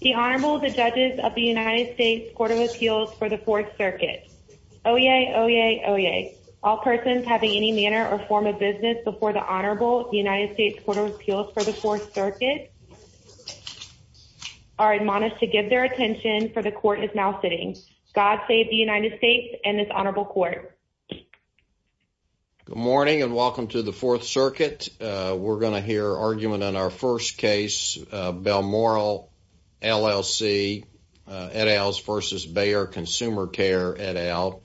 The Honorable, the Judges of the United States Court of Appeals for the Fourth Circuit. Oyez, oyez, oyez. All persons having any manner or form of business before the Honorable, the United States Court of Appeals for the Fourth Circuit are admonished to give their attention, for the Court is now sitting. God save the United States and this Honorable Court. Good morning and welcome to the Fourth Circuit. We're going to hear argument on our first case, Belmoral LLC et als versus Bayer Consumer Care et al.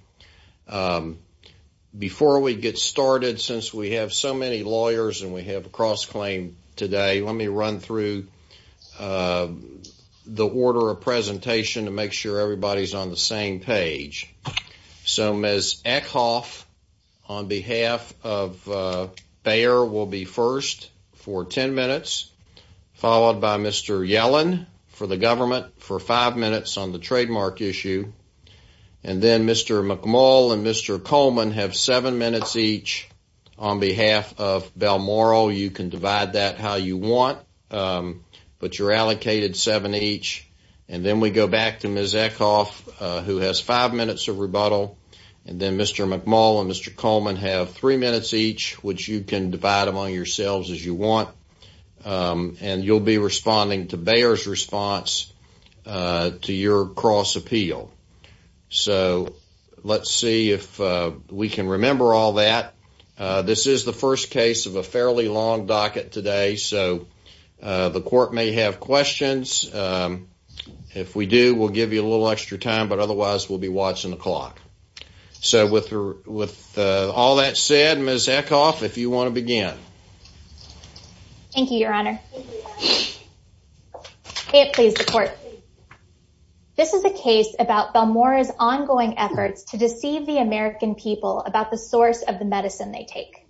Before we get started, since we have so many lawyers and we have a cross-claim today, let me run through the order of presentation to make sure everybody's on the same page. So Ms. Eckhoff on behalf of Bayer will be first for 10 minutes, followed by Mr. Yellen for the government for five minutes on the trademark issue, and then Mr. McMull and Mr. Coleman have seven minutes each on behalf of Belmoral. You can divide that how you want, but you're allocated seven each, and then we go back to Ms. Eckhoff who has five minutes of rebuttal, and then Mr. McMull and Mr. Coleman have three minutes each, which you can divide among yourselves as you want, and you'll be responding to Bayer's response to your cross-appeal. So let's see if we can remember all that. This is the first case of a fairly long docket today, so the court may have questions. If we do, we'll give you a little extra time, but otherwise we'll be watching the clock. So with all that said, Ms. Eckhoff, if you want to begin. Thank you, Your Honor. May it please the court. This is a case about Belmora's ongoing efforts to deceive the American people about the source of the medicine they take.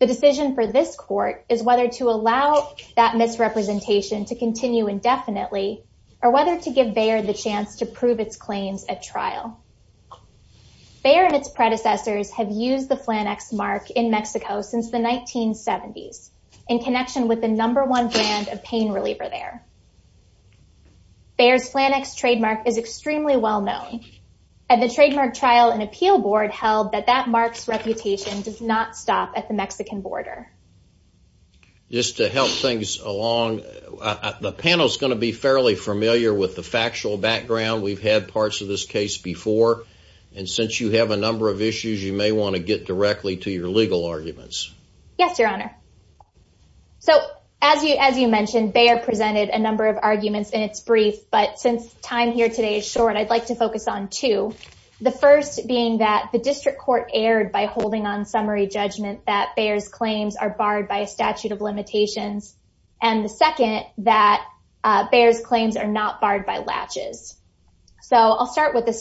The decision for this court is whether to allow that misrepresentation to continue indefinitely, or whether to give Bayer the chance to prove its in connection with the number one brand of pain reliever there. Bayer's Flannex trademark is extremely well known. At the trademark trial, an appeal board held that that mark's reputation does not stop at the Mexican border. Just to help things along, the panel is going to be fairly familiar with the factual background. We've had parts of this case before, and since you have a number of issues, you may want to get directly to your legal arguments. Yes, Your Honor. So as you mentioned, Bayer presented a number of arguments in its brief, but since time here today is short, I'd like to focus on two. The first being that the district court erred by holding on summary judgment that Bayer's claims are barred by a statute of limitations, and the second, that Bayer's claims are not barred by latches. So I'll start with the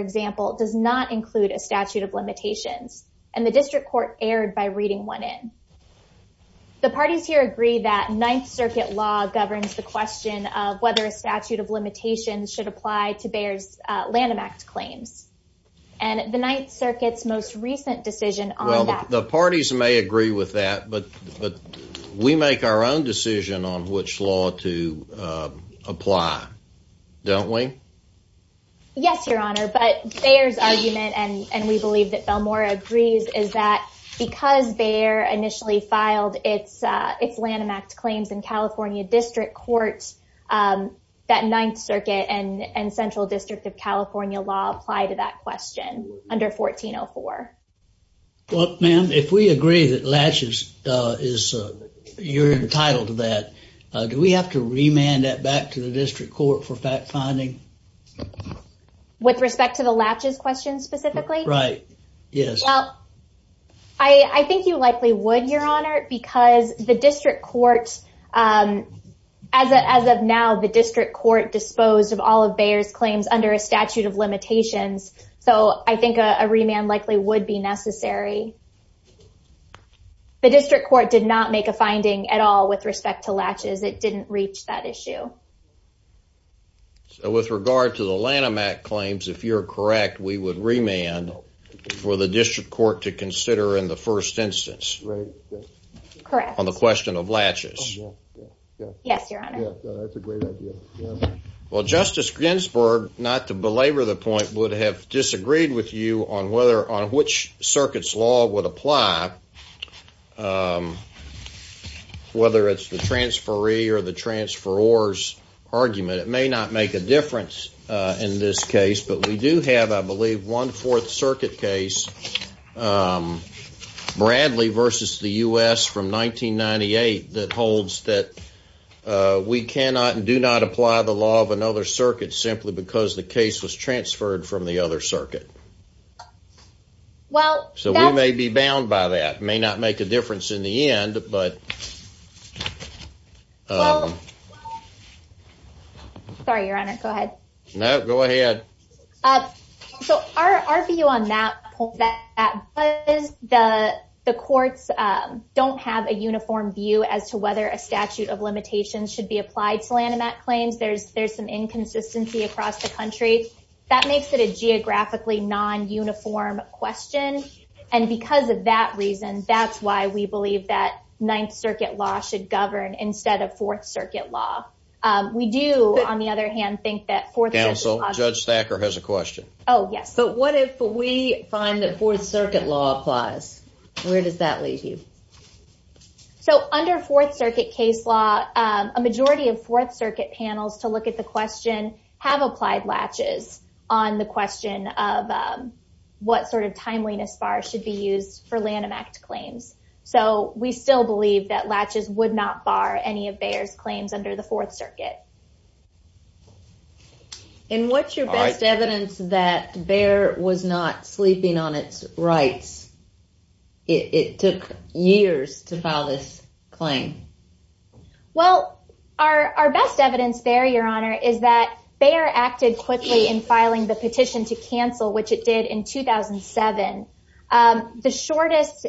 example does not include a statute of limitations, and the district court erred by reading one in. The parties here agree that Ninth Circuit law governs the question of whether a statute of limitations should apply to Bayer's Lanham Act claims, and the Ninth Circuit's most recent decision on that. Well, the parties may agree with that, but we make our own decision on which law to use. But Bayer's argument, and we believe that Belmore agrees, is that because Bayer initially filed its Lanham Act claims in California district court, that Ninth Circuit and Central District of California law apply to that question under 1404. Well, ma'am, if we agree that latches is, you're entitled to that, do we have to remand that back to the district court for fact-finding? With respect to the latches question specifically? Right, yes. Well, I think you likely would, your honor, because the district court, as of now, the district court disposed of all of Bayer's claims under a statute of limitations. So I think a remand likely would be necessary. The district court did not make a finding at all with respect to latches. It didn't reach that issue. So with regard to the Lanham Act claims, if you're correct, we would remand for the district court to consider in the first instance. Right, yes. Correct. On the question of latches. Yes, your honor. Yes, that's a great idea. Well, Justice Ginsburg, not to belabor the point, would have disagreed with you on whether, on which circuit's law would apply, whether it's the transferee or the transferor's argument. It may not make a difference in this case, but we do have, I believe, one fourth circuit case, Bradley versus the U.S. from 1998, that holds that we cannot and do not apply the law of another circuit simply because the case was transferred from the other circuit. Well, so we may be bound by that. May not make a difference in the end, but... Sorry, your honor. Go ahead. No, go ahead. So our view on that point is that the courts don't have a uniform view as to whether a statute of limitations should be applied to Lanham Act claims. There's some inconsistency across the That's why we believe that Ninth Circuit law should govern instead of Fourth Circuit law. We do, on the other hand, think that... Counsel, Judge Thacker has a question. Oh, yes. But what if we find that Fourth Circuit law applies? Where does that leave you? So under Fourth Circuit case law, a majority of Fourth Circuit panels, to look at the question, have applied latches on the question of what sort of timeliness bar should be used for Lanham Act claims. So we still believe that latches would not bar any of Bayer's claims under the Fourth Circuit. And what's your best evidence that Bayer was not sleeping on its rights? It took years to file this claim. Well, our best evidence there, your honor, is that Bayer acted quickly in filing the petition to cancel, which it did in 2007. The shortest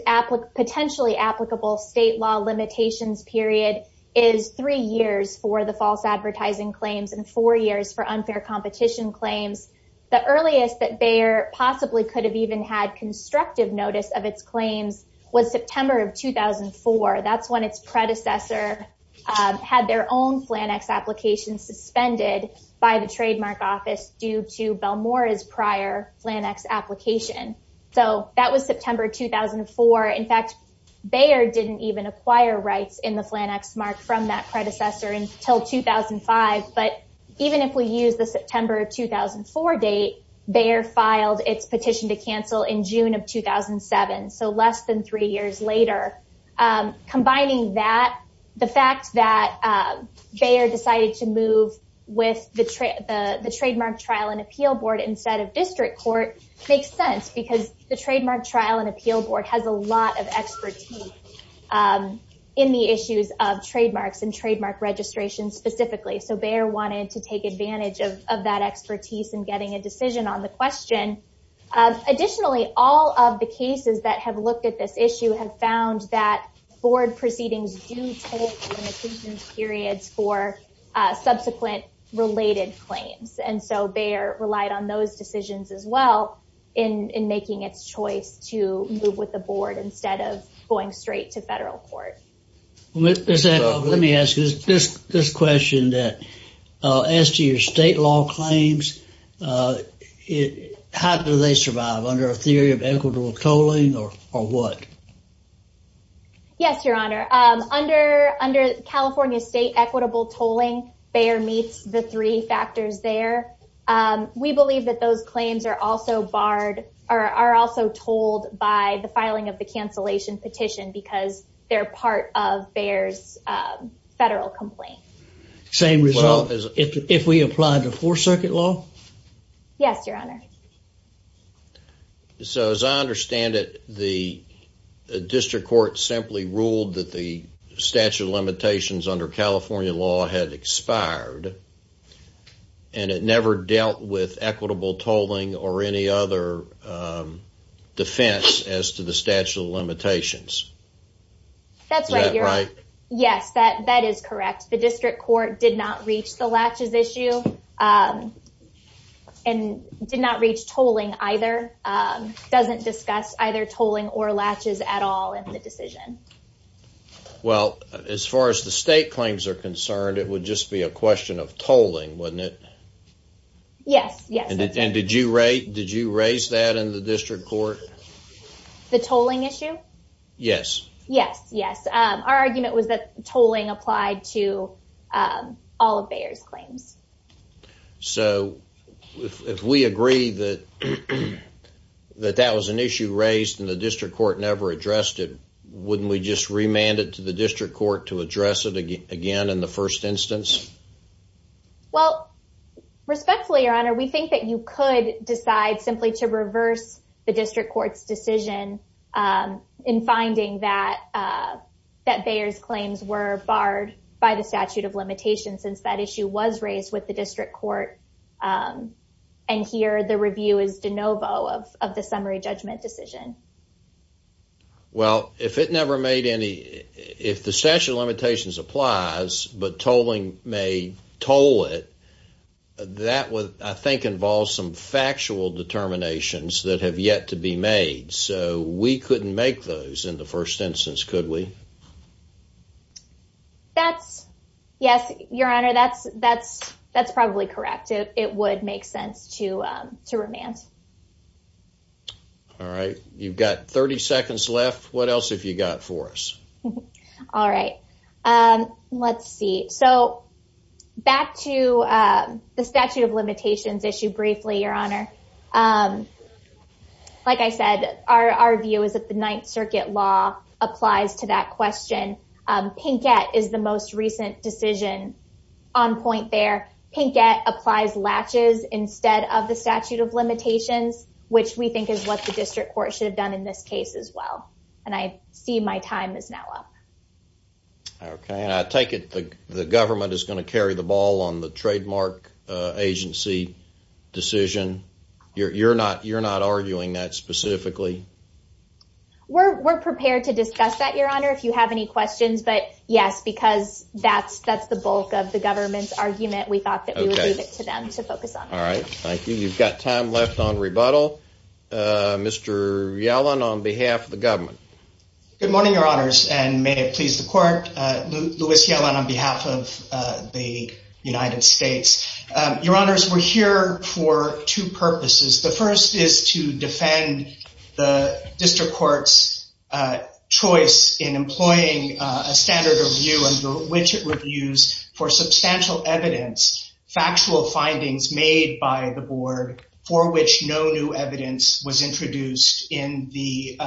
potentially applicable state law limitations period is three years for the false advertising claims and four years for unfair competition claims. The earliest that Bayer possibly could have even had constructive notice of its claims was September of 2004. That's when its predecessor had their own Flannex application suspended by the trademark office due to Belmore's prior Flannex application. So that was September of 2004. In fact, Bayer didn't even acquire rights in the Flannex mark from that predecessor until 2005. But even if we use the September of 2004 date, Bayer filed its petition to cancel in June of 2007, so less than three years later. Combining that, the fact that with the trademark trial and appeal board instead of district court makes sense because the trademark trial and appeal board has a lot of expertise in the issues of trademarks and trademark registration specifically. So Bayer wanted to take advantage of that expertise in getting a decision on the question. Additionally, all of the cases that have looked at this issue have found that board related claims. And so Bayer relied on those decisions as well in making its choice to move with the board instead of going straight to federal court. Let me ask you this question that as to your state law claims, how do they survive under a theory of equitable tolling or what? Yes, your honor. Under California state equitable tolling, Bayer meets the three factors there. We believe that those claims are also barred or are also told by the filing of the cancellation petition because they're part of Bayer's federal complaint. Same result as if we apply the four circuit law? Yes, your honor. Okay. So as I understand it, the district court simply ruled that the statute of limitations under California law had expired and it never dealt with equitable tolling or any other defense as to the statute of limitations. That's right, your honor. Yes, that is correct. The district court did not reach the latches issue and did not reach tolling either. Doesn't discuss either tolling or latches at all in the decision. Well, as far as the state claims are concerned, it would just be a question of tolling, wouldn't it? Yes, yes. And did you raise that in the district court? The tolling issue? Yes. Yes, yes. Our argument was that tolling applied to all of Bayer's claims. So if we agree that that was an issue raised and the district court never addressed it, wouldn't we just remand it to the district court to address it again in the first instance? Well, respectfully, your honor, we think that you could decide simply to reverse the district court's decision in finding that Bayer's claims were barred by the statute of limitations. And here the review is de novo of the summary judgment decision. Well, if it never made any, if the statute of limitations applies, but tolling may toll it, that would, I think, involve some factual determinations that have yet to be made. So we couldn't make those in the first instance, could we? That's, yes, your honor, that's probably correct. It would make sense to remand. All right. You've got 30 seconds left. What else have you got for us? All right. Let's see. So back to the statute of limitations issue briefly, your honor. Like I said, our view is that the Ninth Circuit law applies to that question. Pinkett is the most recent decision on point there. Pinkett applies latches instead of the statute of limitations, which we think is what the district court should have done in this case as well. And I see my time is now up. Okay. And I take it the government is going to carry the ball on the court? You're not arguing that specifically? We're prepared to discuss that, your honor, if you have any questions. But yes, because that's the bulk of the government's argument. We thought that we would leave it to them to focus on. All right. Thank you. You've got time left on rebuttal. Mr. Yellen, on behalf of the government. Good morning, your honors, and may it please the court. Louis Yellen on behalf of the United States. Your honors, we're here for two purposes. The first is to defend the district court's choice in employing a standard of view under which it reviews for substantial evidence, factual findings made by the board for which no new evidence was introduced in the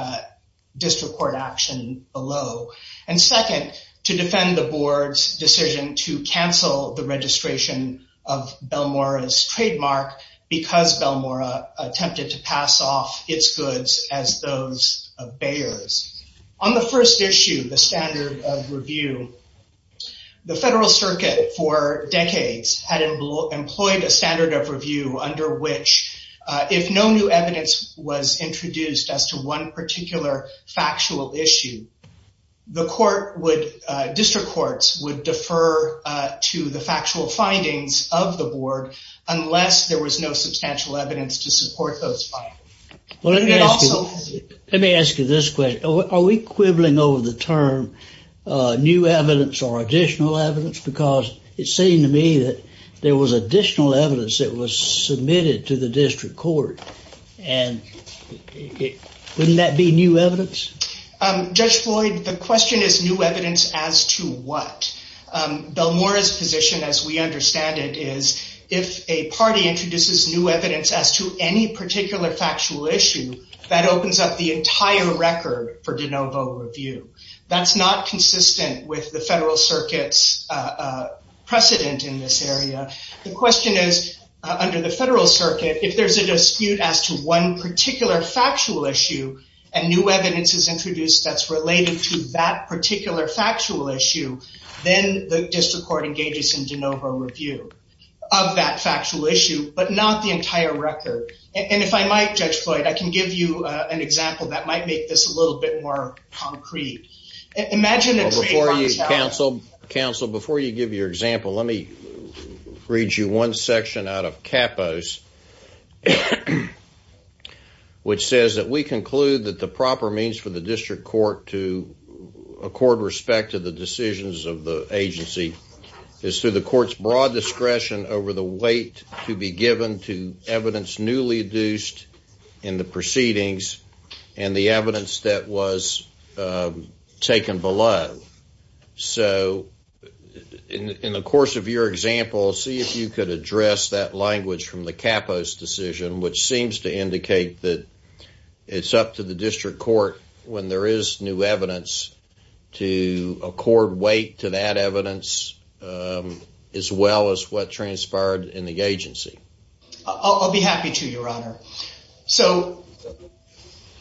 district court action below. And second, to defend the board's decision to cancel the registration of Belmora's trademark because Belmora attempted to pass off its goods as those of Bayer's. On the first issue, the standard of review, the federal circuit for decades had employed a standard of review under which if no new evidence was introduced as to one particular factual issue, the district courts would defer to the factual findings of the board unless there was no substantial evidence to support those findings. Let me ask you this question. Are we quibbling over the term new evidence or additional evidence? Because it seemed to me that there was additional evidence that was submitted to the district court. And wouldn't that be new evidence? Judge Floyd, the question is new evidence as to what? Belmora's position as we understand it is if a party introduces new evidence as to any particular factual issue, that opens up the entire record for de novo review. That's not consistent with the federal circuit's precedent in this area. The question is under the federal circuit, if there's a dispute as to one particular factual issue and new evidence is introduced that's related to that particular factual issue, then the district court engages in de novo review of that factual issue, but not the entire record. And if I might, Judge Floyd, I can give you an example that might make this a little bit more concrete. Before you, counsel, before you give your example, let me read you one section out of Capos, which says that we conclude that the proper means for the district court to accord respect to the decisions of the agency is through the court's broad discretion over the weight to be given to evidence newly induced in the proceedings and the evidence that was taken below. So in the course of your example, see if you could address that language from the Capos decision, which seems to indicate that it's up to the district court when there is new evidence to accord weight to that evidence as well as what transpired in the agency. I'll be happy to, Your Honor. So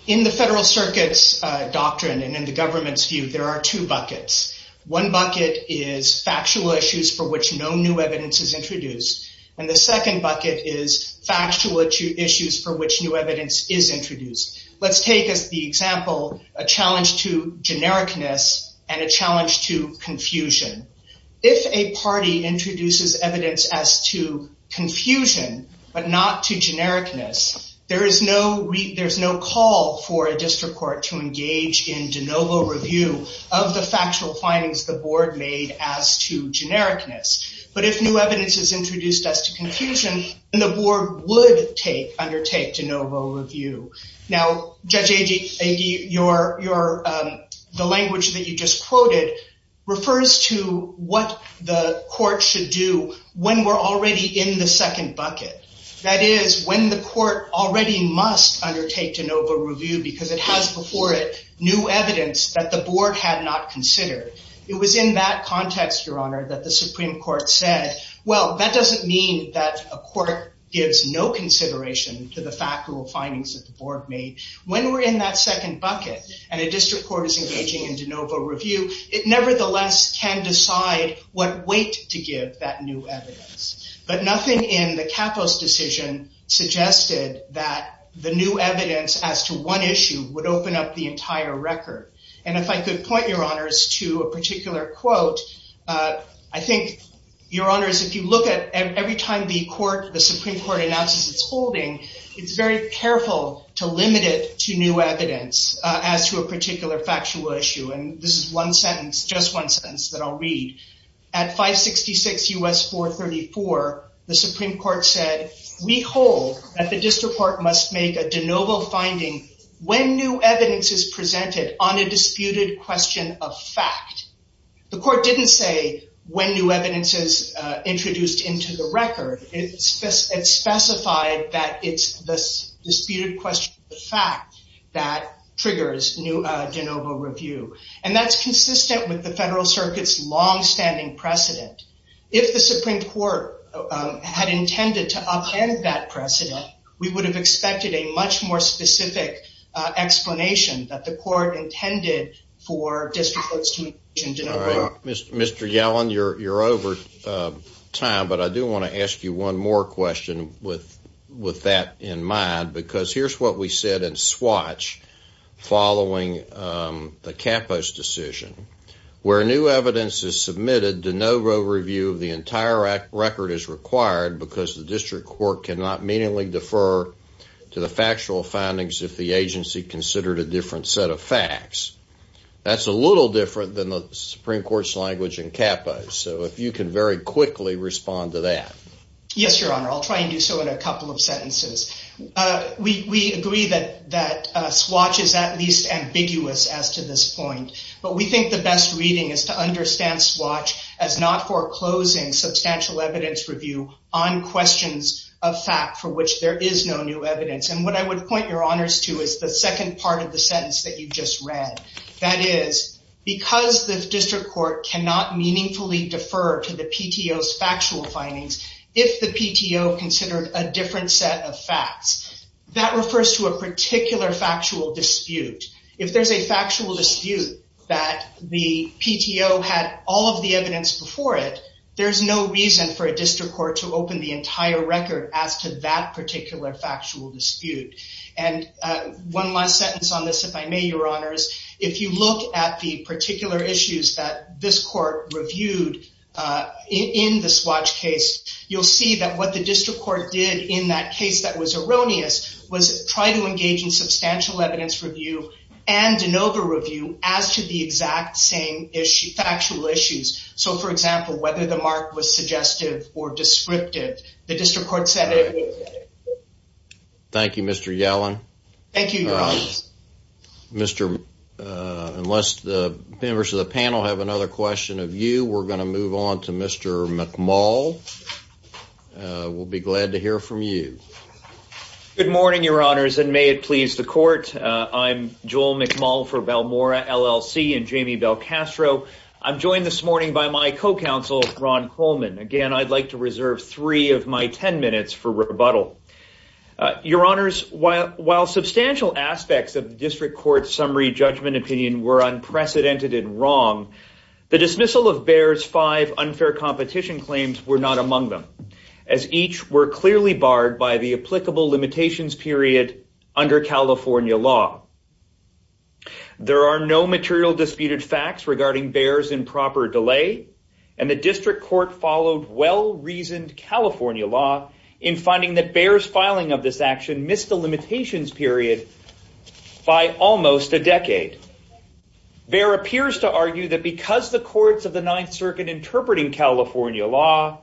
in the federal circuit's doctrine and in the government's view, there are two buckets. One bucket is factual issues for which no new evidence is introduced, and the second bucket is factual issues for which new evidence is introduced. Let's take as the example a challenge to genericness and a challenge to confusion. If a party introduces evidence as to confusion but not to genericness, there is no call for a district court to engage in de novo review of the factual findings the board made as to genericness. But if new evidence is introduced as to confusion, then the board would undertake de novo review. Now, Judge Agee, the language that you just quoted refers to what the court should do when we're already in the second bucket. That is, when the court already must undertake de novo review because it has before it new evidence that the board had not considered. It was in that context, Your Honor, that the Supreme Court said, well, that doesn't mean that a court gives no consideration to the factual findings that the board made. When we're in that second bucket and a district court is engaging in de novo review, it nevertheless can decide what weight to give that new evidence. But nothing in the Capos decision suggested that the new evidence as to one issue would open up the entire record. And if I could point, Your Honors, to a particular quote, I think, Your Honors, if you look at every time the Supreme Court announces its holding, it's very careful to limit it to new evidence as to a particular factual issue. And this is one sentence, just one sentence that I'll read. At 566 U.S. 434, the Supreme Court said, we hold that the district court must make a de novo finding when new evidence is presented on a disputed question of fact. The court didn't say when new evidence is introduced into the record. It specified that it's the disputed question of fact that triggers new de novo review. And that's consistent with the Federal Circuit's longstanding precedent. If the Supreme Court had intended to upend that precedent, we would have expected a much more specific explanation that the court intended for district courts to You're over time, but I do want to ask you one more question with that in mind, because here's what we said in Swatch following the Capos decision. Where new evidence is submitted, de novo review of the entire record is required because the district court cannot meaningly defer to the factual findings if the agency considered a different set of facts. That's a little different than the Supreme Court's language in Capos. So if you can very quickly respond to that. Yes, Your Honor, I'll try and do so in a couple of sentences. We agree that that Swatch is at least ambiguous as to this point, but we think the best reading is to understand Swatch as not foreclosing substantial evidence review on questions of fact for which there is no new evidence. And what I would point Your Honors to is the second part of the sentence that you just read. That is, because the district court cannot meaningfully defer to the PTO's factual findings if the PTO considered a different set of facts. That refers to a particular factual dispute. If there's a factual dispute that the PTO had all of the evidence before it, there's no reason for a district court to open the entire record as to that particular factual dispute. And one last sentence on this, if I may, Your Honors. If you look at the particular issues that this court reviewed in the Swatch case, you'll see that what the district court did in that case that was erroneous was try to engage in substantial evidence review and de novo review as to the exact same factual issues. So for example, whether the mark was suggestive or descriptive, the district court said it was. Thank you, Mr. Yellen. Thank you, Your Honors. Unless the members of the panel have another question of you, we're going to move on to Mr. McMull. We'll be glad to hear from you. Good morning, Your Honors, and may it please the court. I'm Joel McMull for Balmora LLC and Jamie Belcastro. I'm joined this morning by my co-counsel, Ron Coleman. Again, I'd like to reserve three of my 10 minutes for rebuttal. Your Honors, while substantial aspects of the district court's summary judgment opinion were unprecedented and wrong, the dismissal of Behr's five unfair competition claims were not among them, as each were clearly barred by the applicable limitations period under California law. There are no material disputed facts regarding Behr's improper delay, and the district court followed well-reasoned California law in finding that Behr's filing of this action missed the limitations period by almost a decade. Behr appears to argue that because the courts of the Ninth Circuit interpreting California law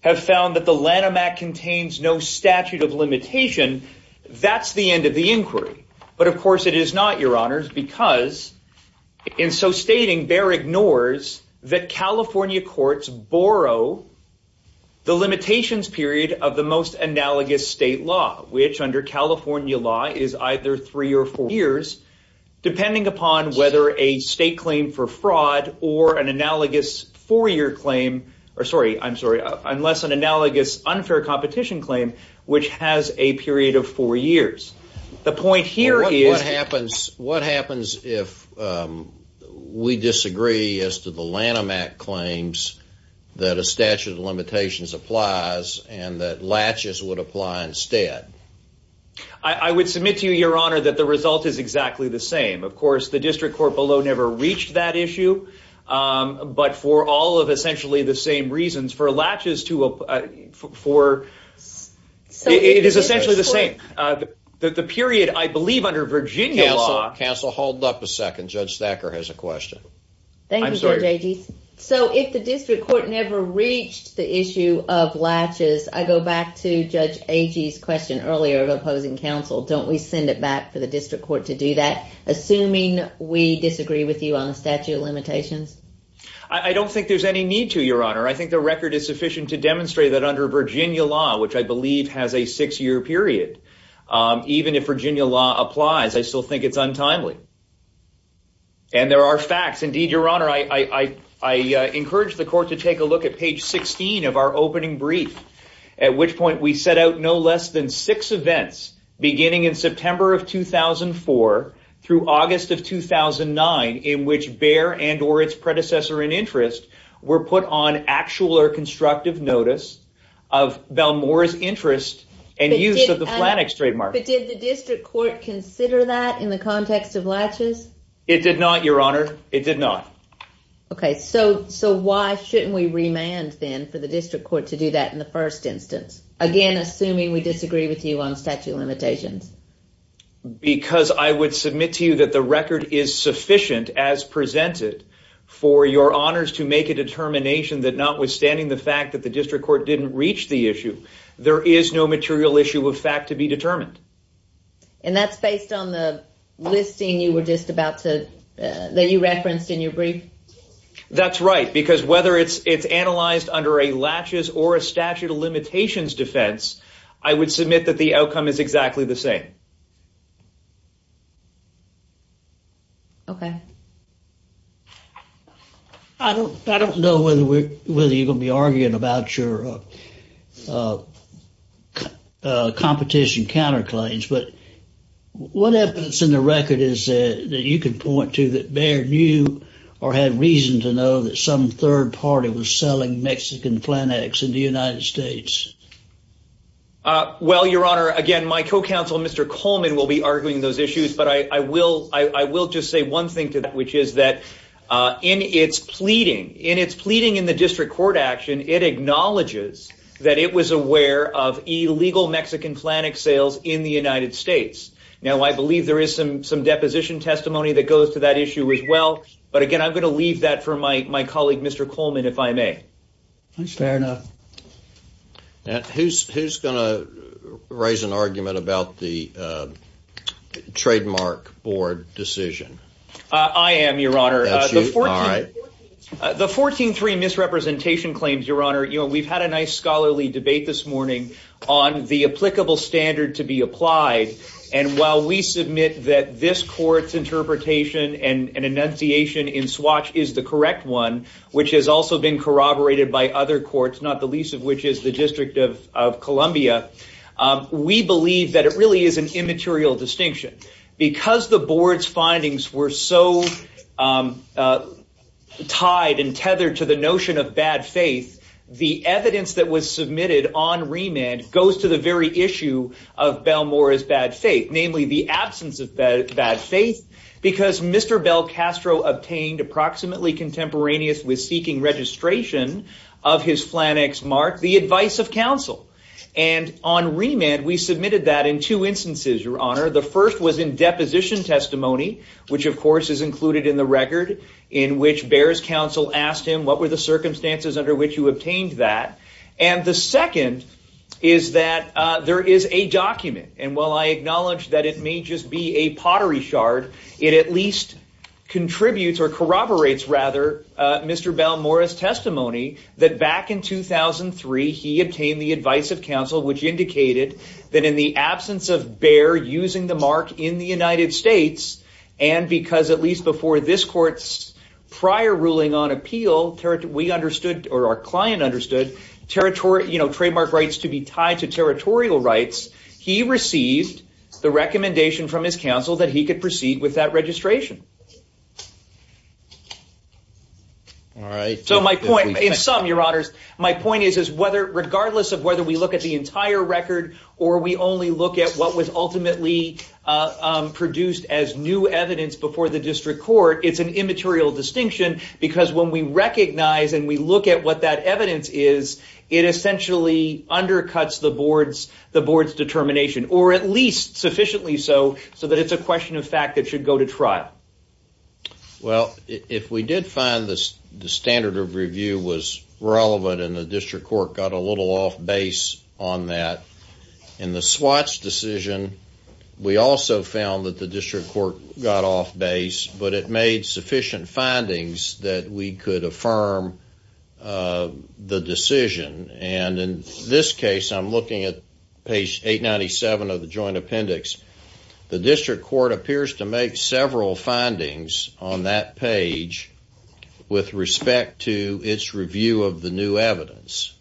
have found that the Lanham Act contains no statute of limitation, that's the end of the inquiry. But of course, it is not, Your Honors, because in so stating, Behr ignores that California courts borrow the limitations period of the most analogous state law, which under California law is either three or four years, depending upon whether a state claim for fraud or an analogous four-year claim, or sorry, I'm sorry, unless an analogous unfair competition claim, which has a period of four years. The point here is... What happens if we disagree as to the Lanham Act claims that a statute of limitations applies and that latches would apply instead? I would submit to you, Your Honor, that the result is exactly the same. Of course, the district court below never reached that issue, but for all of essentially the same reasons, for latches to... It is essentially the same. The period, I believe, under Virginia law... Counsel, hold up a second. Judge Thacker has a question. Thank you, Judge Agee. So if the district court never reached the issue of latches, I go back to Judge Agee's question earlier of opposing counsel. Don't we send it back for the district court to do that, assuming we disagree with you on the statute of limitations? I don't think there's any need to, Your Honor. I think the record is sufficient to demonstrate that under Virginia law, which I believe has a six-year period, even if Virginia law applies, I still think it's untimely. And there are facts. Indeed, Your Honor, I encourage the court to take a look at page 16 of our opening brief, at which point we set out no less than interest were put on actual or constructive notice of Belmore's interest and use of the Flannick's trademark. But did the district court consider that in the context of latches? It did not, Your Honor. It did not. Okay. So why shouldn't we remand then for the district court to do that in the first instance, again, assuming we disagree with you on statute of limitations? Because I would submit to you that the record is sufficient, as presented, for your honors to make a determination that notwithstanding the fact that the district court didn't reach the issue, there is no material issue of fact to be determined. And that's based on the listing that you referenced in your brief? That's right. Because whether it's analyzed under a latches or a statute of limitations defense, I would submit that the outcome is exactly the same. Okay. I don't know whether you're going to be arguing about your competition counterclaims, but what evidence in the record is that you can point to that Baird knew or had reason to know that some third party was selling Mexican Flannicks in the United States? Well, Your Honor, again, my co-counsel, Mr. Coleman will be arguing those issues, but I will just say one thing to that, which is that in its pleading, in its pleading in the district court action, it acknowledges that it was aware of illegal Mexican Flannick sales in the United States. Now, I believe there is some deposition testimony that goes to that issue as well. But again, I'm going to leave that for my colleague, Mr. Coleman, if I may. Fair enough. Who's going to raise an argument about the trademark board decision? I am, Your Honor. The 14-3 misrepresentation claims, Your Honor, we've had a nice scholarly debate this morning on the applicable standard to be applied. And while we submit that this court, not the least of which is the District of Columbia, we believe that it really is an immaterial distinction. Because the board's findings were so tied and tethered to the notion of bad faith, the evidence that was submitted on remand goes to the very issue of Belmore's bad faith, namely the absence of bad faith, because Mr. Belcastro obtained approximately contemporaneous with seeking registration of his Flannick's mark the advice of counsel. And on remand, we submitted that in two instances, Your Honor. The first was in deposition testimony, which of course is included in the record, in which Behr's counsel asked him what were the circumstances under which you obtained that. And the second is that there is a document. And while I acknowledge that it may just be a pottery shard, it at least contributes or corroborates, rather, Mr. Belmore's testimony that back in 2003, he obtained the advice of counsel, which indicated that in the absence of Behr using the mark in the United States, and because at least before this court's prior ruling on appeal, we understood or our client understood trademark rights to be tied to territorial rights, he received the recommendation from his counsel that he could proceed with that registration. All right. So my point, in sum, Your Honors, my point is, is whether regardless of whether we look at the entire record, or we only look at what was ultimately produced as new evidence before the district court, it's an immaterial distinction, because when we recognize and we look at what that evidence is, it essentially undercuts the board's determination, or at least sufficiently so, so that it's a question of fact that should go to trial. Well, if we did find this, the standard of review was relevant, and the district court got a little off base on that, in the Swatts decision, we also found that the district court got off base, but it made sufficient findings that we could affirm the decision. And in this case, I'm looking at page 897 of the joint appendix, the district court appears to make several findings on that page with respect to its review of the new evidence.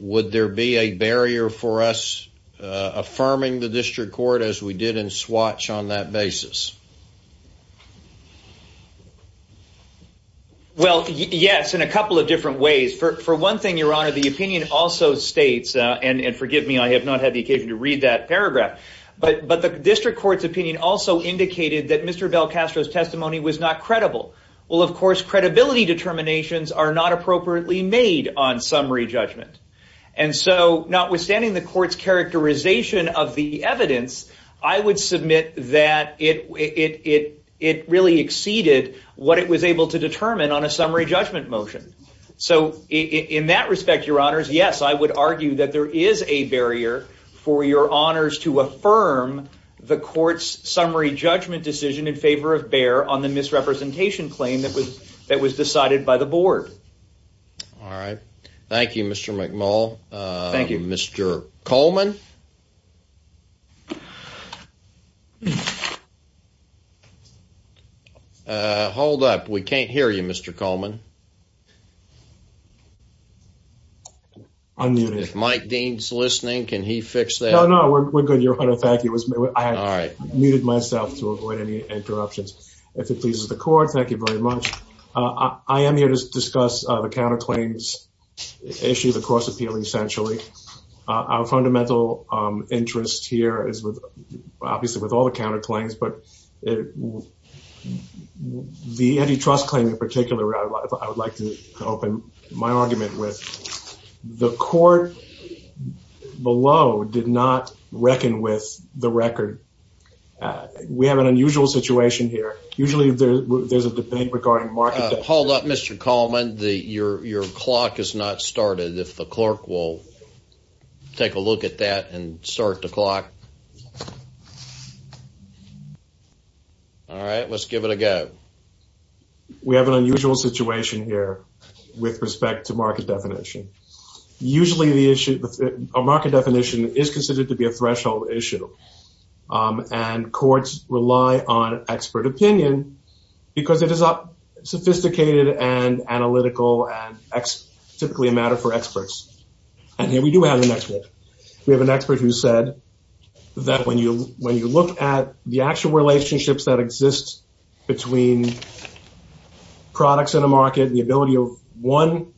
Would there be a barrier for us affirming the district court as we did in Swatts on that basis? Well, yes, in a couple of different ways. For one thing, Your Honor, the opinion also states, and forgive me, I have not had the occasion to read that paragraph, but the district court's opinion also indicated that Mr. Belcastro's testimony was not credible. Well, of course, credibility determinations are not appropriately made on summary judgment. And so, notwithstanding the court's characterization of the evidence, I would submit that it really exceeded what it was able to determine on a summary judgment motion. So in that respect, Your Honors, yes, I would argue that there is a barrier for Your Honors to affirm the court's summary judgment decision in favor of Behr on the misrepresentation claim that was decided by the board. All right. Thank you, Mr. McMull. Thank you. Mr. Coleman? Hold up. We can't hear you, Mr. Coleman. Unmuted. If Mike Dean's listening, can he fix that? No, we're good, Your Honor. Thank you. I muted myself to avoid any interruptions. If it pleases the court, thank you very much. I am here to discuss the counterclaims issue, the cross-appeal, essentially. Our fundamental interest here is obviously with all the counterclaims, but with the antitrust claim in particular, I would like to open my argument with the court below did not reckon with the record. We have an unusual situation here. Usually there's a debate regarding market- Hold up, Mr. Coleman. Your clock has not started. If the clerk will take a look at that and start the clock. All right. Let's give it a go. We have an unusual situation here with respect to market definition. Usually the issue of market definition is considered to be a threshold issue, and courts rely on expert opinion because it is a sophisticated and analytical and typically a matter for experts. And here we do have an expert. We have an expert who said that when you look at the actual relationships that exist between products in a market, the ability of one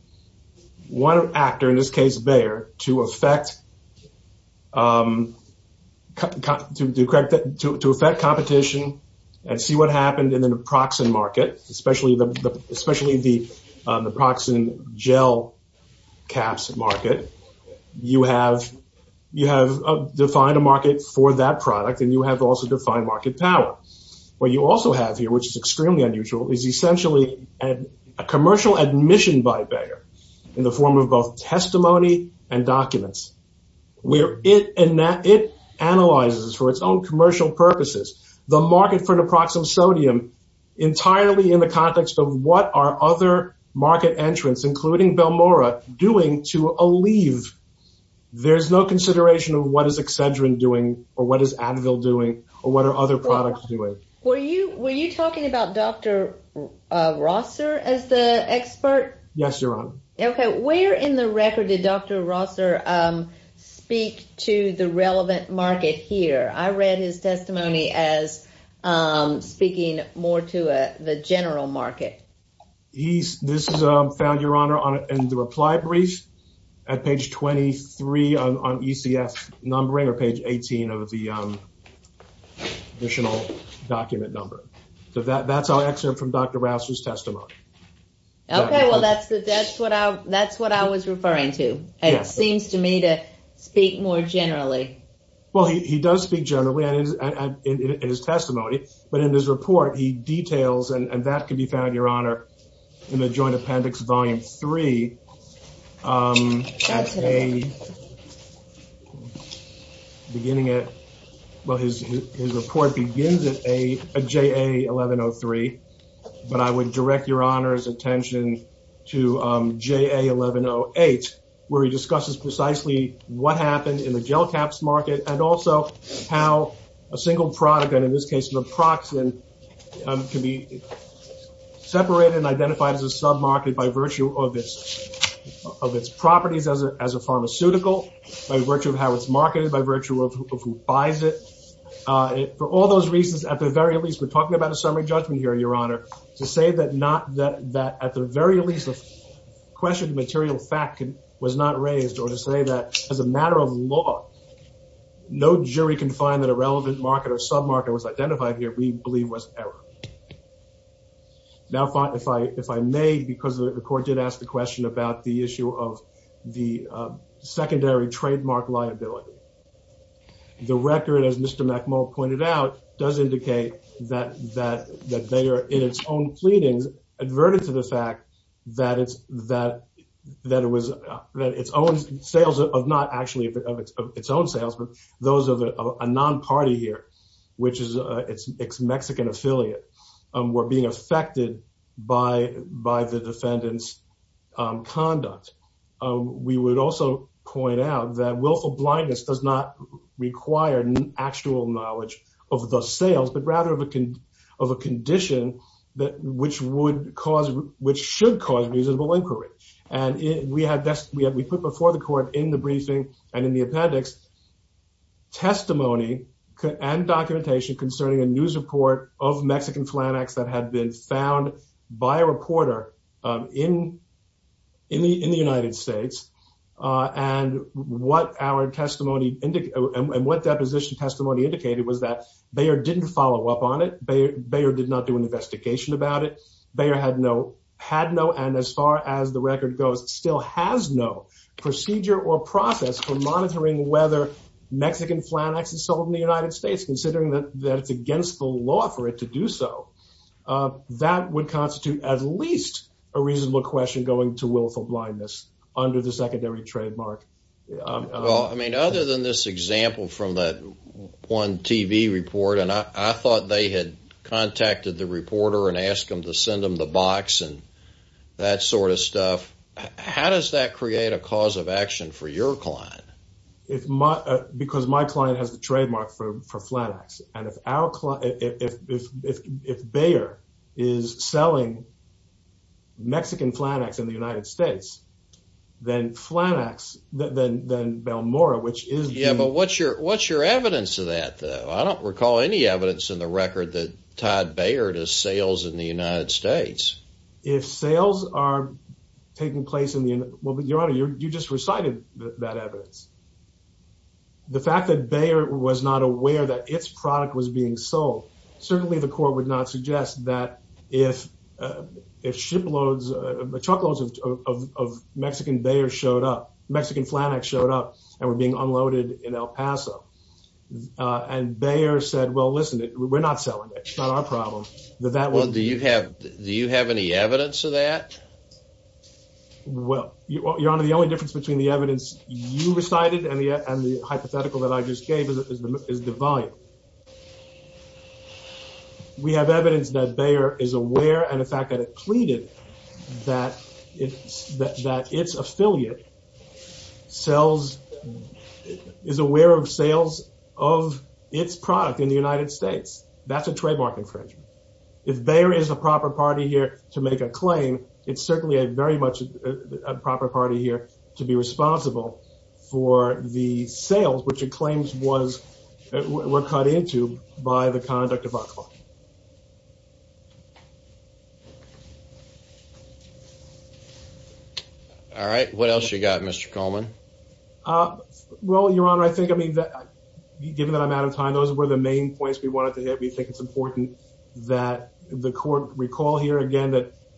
actor, in this case Bayer, to affect competition and see what happened in the Naproxen market, especially the Naproxen gel caps market, you have defined a market for that product, and you have also defined market power. What you also have here, which is extremely unusual, is essentially a commercial admission by Bayer in the form of both testimony and documents, where it analyzes for its own commercial purposes the market for Naproxen sodium entirely in the context of what are other market entrants, including Belmora, doing to alleve. There's no consideration of what is Excedrin doing, or what is Advil doing, or what are other products doing. Were you talking about Dr. Rosser as the expert? Yes, Your Honor. Okay, where in the record did Dr. Rosser speak to the relevant market here? I read his testimony as speaking more to the ECF numbering, or page 18 of the additional document number. So that's our excerpt from Dr. Rosser's testimony. Okay, well that's what I was referring to. It seems to me to speak more generally. Well, he does speak generally in his testimony, but in his report he details, and that can be found, Your Honor, in the Joint Appendix Volume 3, beginning at, well his report begins at JA 1103, but I would direct Your Honor's attention to JA 1108, where he discusses precisely what happened in the gel caps market, and also how a single product, and in this case Naproxen, can be separated and identified as a sub-market by virtue of its properties as a pharmaceutical, by virtue of how it's marketed, by virtue of who buys it. For all those reasons, at the very least, we're talking about a summary judgment here, Your Honor. To say that at the very least, questioned material fact was not raised, or to say that as a matter of law, no jury can find that a error. Now, if I may, because the court did ask the question about the issue of the secondary trademark liability, the record, as Mr. McMullin pointed out, does indicate that they are in its own pleadings, adverted to the fact that it was that its own sales, not actually of its own sales, those of a non-party here, which is its Mexican affiliate, were being affected by the defendant's conduct. We would also point out that willful blindness does not require actual knowledge of the sales, but rather of a condition which should cause reasonable inquiry. We put before the court in the briefing and in the appendix testimony and documentation concerning a news report of Mexican Flanax that had been found by a reporter in the United States, and what deposition testimony indicated was that Bayer didn't follow up on it, Bayer did not do an investigation about it, Bayer had no, had no, and as far as the record goes, still has no procedure or process for monitoring whether Mexican Flanax is sold in the United States, considering that it's against the law for it to do so. That would constitute at least a reasonable question going to willful blindness under the secondary trademark. Well, I mean, other than this example from that one TV report, and I thought they had contacted the reporter and asked him to send them the box and that sort of stuff, how does that create a cause of action for your client? Because my client has the trademark for Flanax, and if our client, if Bayer is selling Mexican Flanax in the United States, then Flanax, then Balmora, which is... Yeah, but what's your evidence of that, though? I don't recall any evidence in the record that tied Bayer to sales in the United States. If sales are taking place in the, well, but your honor, you just recited that evidence. The fact that Bayer was not aware that its product was being sold, certainly the court would not suggest that if shiploads, truckloads of Mexican Bayer showed up, Mexican Flanax showed up, and were being unloaded in El Paso, and Bayer said, well, listen, we're not selling it, it's not our problem, that that would... Well, do you have any evidence of that? Well, your honor, the only difference between the evidence you recited and the hypothetical that I just gave is the volume. We have evidence that Bayer is aware, and the fact that it pleaded that its affiliate sells, is aware of sales of its product in the United States, that's a trademark infringement. If Bayer is the proper party here to make a claim, it's certainly very much a proper party here to be responsible for the sales, which it claims were cut into by the conduct of VAXLAW. All right, what else you got, Mr. Coleman? Well, your honor, I think, I mean, given that I'm out of time, those were the main points we had.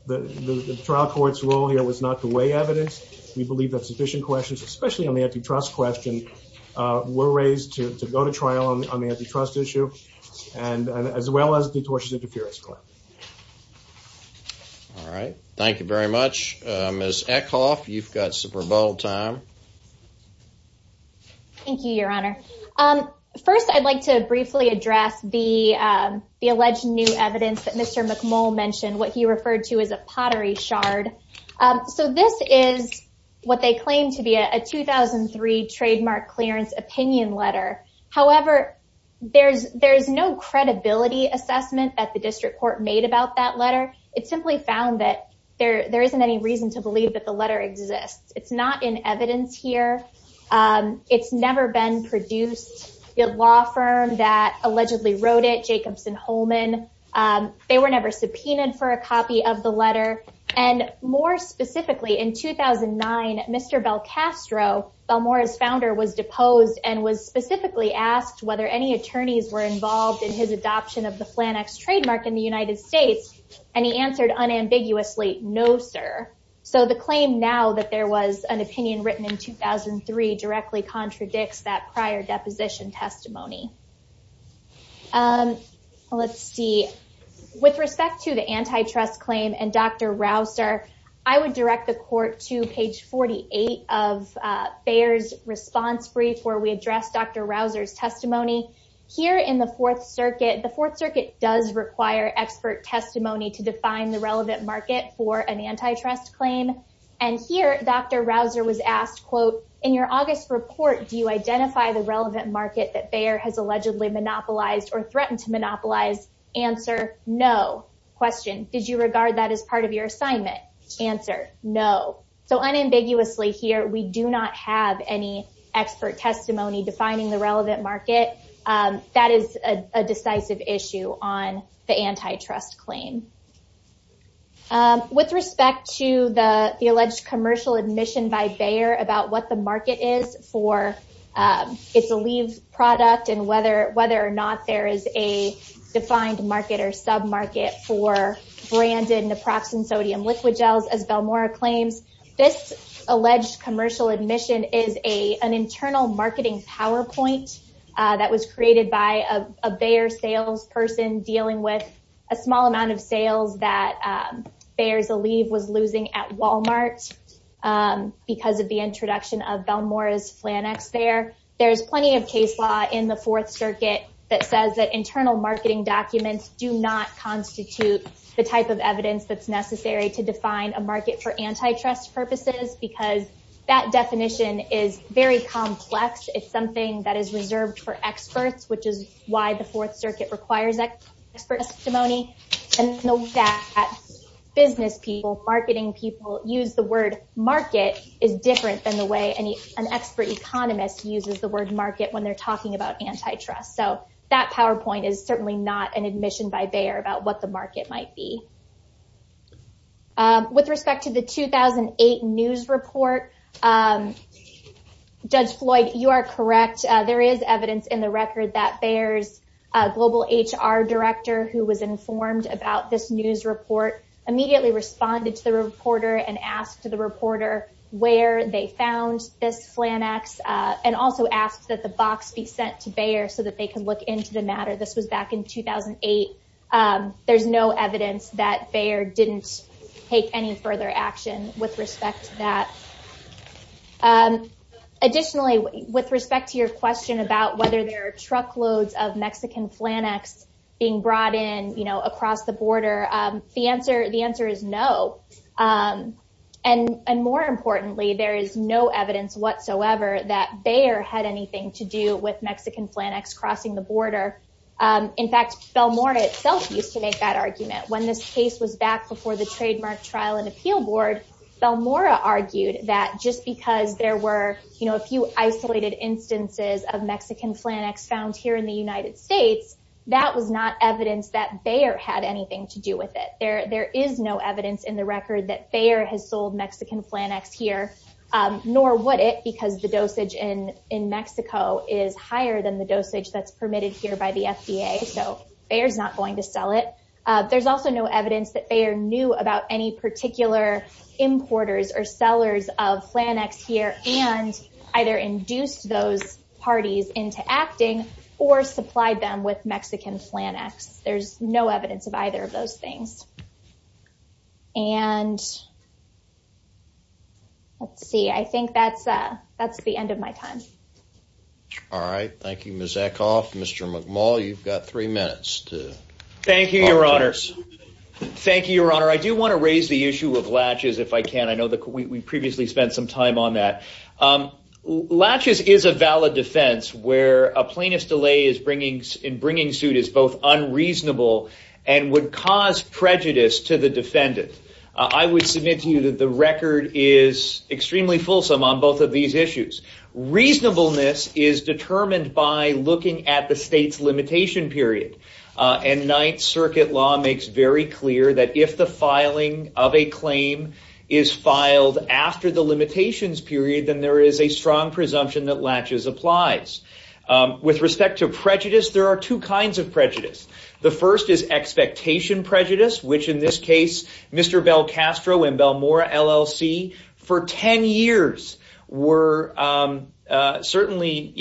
The trial court's role here was not to weigh evidence. We believe that sufficient questions, especially on the antitrust question, were raised to go to trial on the antitrust issue, as well as the tortious interference claim. All right, thank you very much. Ms. Eckhoff, you've got some rebuttal time. Thank you, your honor. First, I'd like to briefly address the alleged new evidence that Mr. McMull mentioned, what he referred to as a pottery shard. So this is what they claim to be a 2003 trademark clearance opinion letter. However, there's no credibility assessment that the district court made about that letter. It simply found that there isn't any reason to believe that the letter exists. It's not in evidence here. It's never been produced. The law firm that allegedly wrote it, Jacobson-Holman, they were never subpoenaed for a copy of the letter. And more specifically, in 2009, Mr. Belcastro, Balmora's founder, was deposed and was specifically asked whether any attorneys were involved in his adoption of the Flannex trademark in the United States. And he answered unambiguously, no, sir. So the claim now that there is no evidence that the letter exists, it's not in evidence. So I'm going to move on to the second part of my testimony. Let's see. With respect to the antitrust claim and Dr. Rausser, I would direct the court to page 48 of Bayer's response brief where we address Dr. Rausser's testimony. Here in the Fourth Circuit, the Fourth Circuit does require expert testimony to define the relevant market for an antitrust claim. And here, Dr. Rausser was asked, quote, in your August report, do you identify the relevant market that Bayer has allegedly monopolized or threatened to monopolize? Answer, no. Question, did you regard that as part of your assignment? Answer, no. So unambiguously here, we do not have any expert testimony defining the relevant market. That is a decisive issue on the antitrust claim. With respect to the alleged commercial admission by Bayer about what the market is for its Aleve product and whether or not there is a defined market or sub market for branded naproxen sodium liquid gels, as Belmora claims, this alleged commercial admission is an internal marketing PowerPoint that was created by a Bayer salesperson dealing with a small amount of sales that Bayer's Aleve was losing at Walmart because of the introduction of Belmora's Flanax there. There's plenty of case law in the Fourth Circuit that says that internal marketing documents do not constitute the type of because that definition is very complex. It's something that is reserved for experts, which is why the Fourth Circuit requires expert testimony. And the fact that business people, marketing people use the word market is different than the way an expert economist uses the word market when they're talking about antitrust. So that PowerPoint is certainly not an admission by Bayer about what the market might be. With respect to the 2008 news report, Judge Floyd, you are correct. There is evidence in the record that Bayer's global HR director, who was informed about this news report, immediately responded to the reporter and asked the reporter where they found this Flanax and also asked that the box be sent to Bayer so that they could look into the matter. This was back in 2008. There's no evidence that Bayer didn't take any further action with respect to that. Additionally, with respect to your question about whether there are truckloads of Mexican Flanax being brought in across the border, the answer is no. And more importantly, there is no evidence whatsoever that Bayer had anything to with Mexican Flanax crossing the border. In fact, Belmora itself used to make that argument. When this case was back before the trademark trial and appeal board, Belmora argued that just because there were a few isolated instances of Mexican Flanax found here in the United States, that was not evidence that Bayer had anything to do with it. There is no evidence in the record that Bayer has sold Mexican Flanax here, nor would it because the dosage in Mexico is higher than the dosage that's permitted here by the FDA. So Bayer's not going to sell it. There's also no evidence that Bayer knew about any particular importers or sellers of Flanax here and either induced those parties into acting or supplied them with Mexican Flanax. There's no evidence of either of those things. And let's see, I think that's the end of my time. All right. Thank you, Ms. Eckhoff. Mr. McMull, you've got three minutes. Thank you, Your Honor. Thank you, Your Honor. I do want to raise the issue of latches if I can. I know that we previously spent some time on that. Latches is a valid defense where a plaintiff's delay in bringing suit is both unreasonable and would cause prejudice to the defendant. I would submit to you that the record is extremely fulsome on both of these issues. Reasonableness is determined by looking at the state's limitation period. And Ninth Circuit law makes very clear that if the filing of a claim is filed after the limitations period, then there is a strong presumption that latches applies. With respect to in this case, Mr. Belcastro and Belmora LLC for 10 years were certainly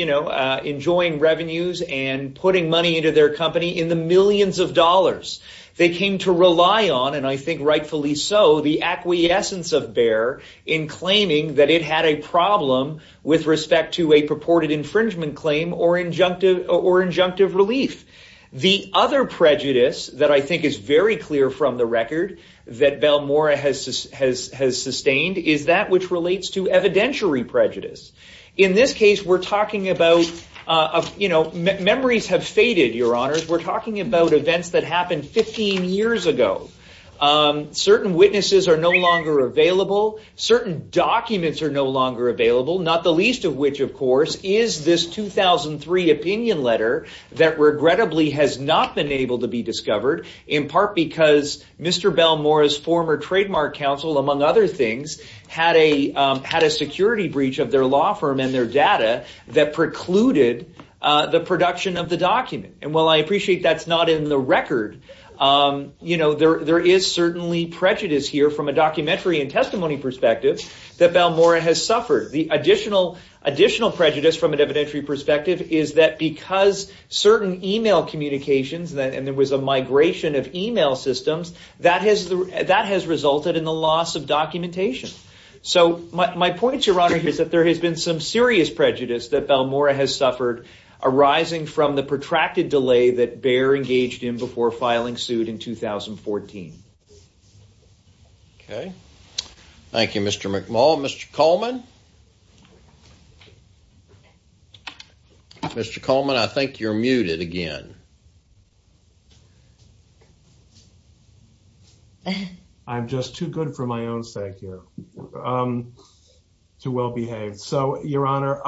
enjoying revenues and putting money into their company in the millions of dollars they came to rely on, and I think rightfully so, the acquiescence of Bayer in claiming that it had a problem with respect to purported infringement claim or injunctive relief. The other prejudice that I think is very clear from the record that Belmora has sustained is that which relates to evidentiary prejudice. In this case, memories have faded, Your Honors. We're talking about events that happened 15 years ago. Certain witnesses are no longer available. Certain documents are no longer available, not the least of which, of course, is this 2003 opinion letter that regrettably has not been able to be discovered, in part because Mr. Belmora's former trademark counsel, among other things, had a security breach of their law firm and their data that precluded the production of the document. And while I appreciate that's not in the record, there is certainly prejudice here from a documentary and testimony perspective that Belmora has suffered. The additional prejudice from an evidentiary perspective is that because certain email communications, and there was a migration of email systems, that has resulted in the loss of documentation. So my point, Your Honor, is that there has been some serious prejudice that Belmora has suffered arising from the protracted delay that Bayer engaged in before filing suit in 2014. Okay. Thank you, Mr. McMullin. Mr. Coleman? Mr. Coleman, I think you're muted again. I'm just too good for my own sake here to well behave. So, Your Honor,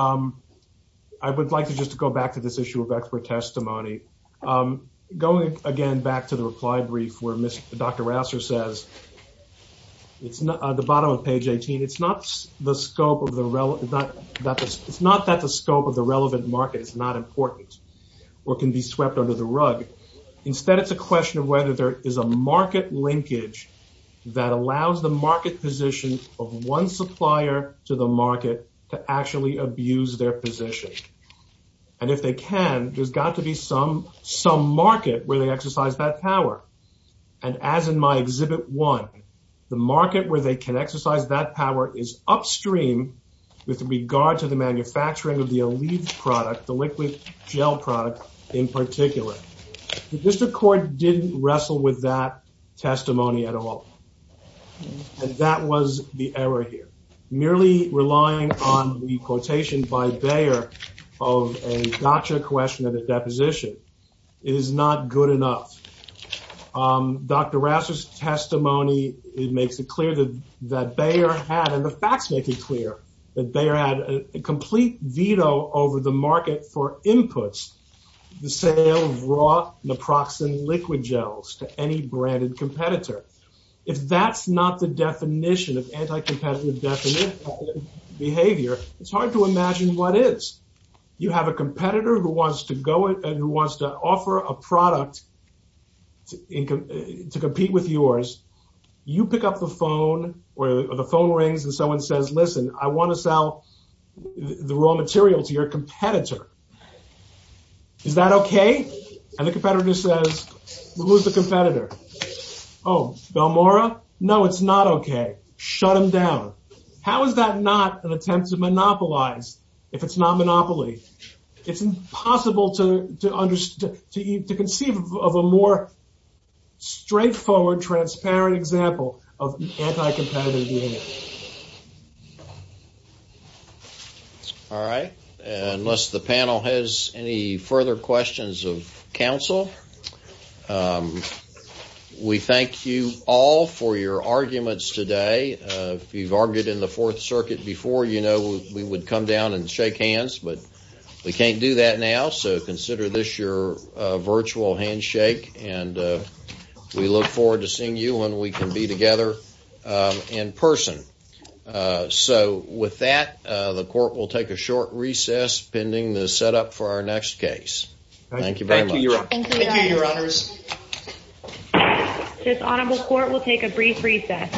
I would like to just go back to this issue of expert testimony. Going again back to the reply brief where Dr. Rouser says, at the bottom of page 18, it's not that the scope of the relevant market is not important or can be swept under the rug. Instead, it's a question of whether there is a market linkage that allows the market position of one supplier to the market to actually abuse their position. And if they can, there's got to be some market where they exercise that power. And as in my Exhibit 1, the market where they can exercise that power is upstream with regard to the manufacturing of the Aleve product, the liquid gel product in particular. The District Court didn't wrestle with that testimony at all. And that was the error here. Merely relying on the quotation by Bayer of a gotcha question at a deposition is not good enough. Dr. Rouser's testimony, it makes it clear that Bayer had, and the facts make it clear, that Bayer had a complete veto over the market for inputs, the sale of raw naproxen liquid gels to any branded competitor. If that's not the definition of anti-competitive behavior, it's hard to imagine what is. You have a competitor who wants to go and who wants to compete with yours. You pick up the phone or the phone rings and someone says, listen, I want to sell the raw material to your competitor. Is that okay? And the competitor says, who's the competitor? Oh, Belmora? No, it's not okay. Shut him down. How is that not an attempt to monopolize if it's not monopoly? It's impossible to conceive of a more straightforward, transparent example of anti-competitive behavior. All right. Unless the panel has any further questions of counsel, we thank you all for your arguments today. If you've argued in the Fourth Circuit before, we would come down and shake hands, but we can't do that now, so consider this your virtual handshake, and we look forward to seeing you when we can be together in person. So with that, the Court will take a short recess, pending the setup for our next case. Thank you very much. Thank you, Your Honors. This Honorable Court will take a brief recess.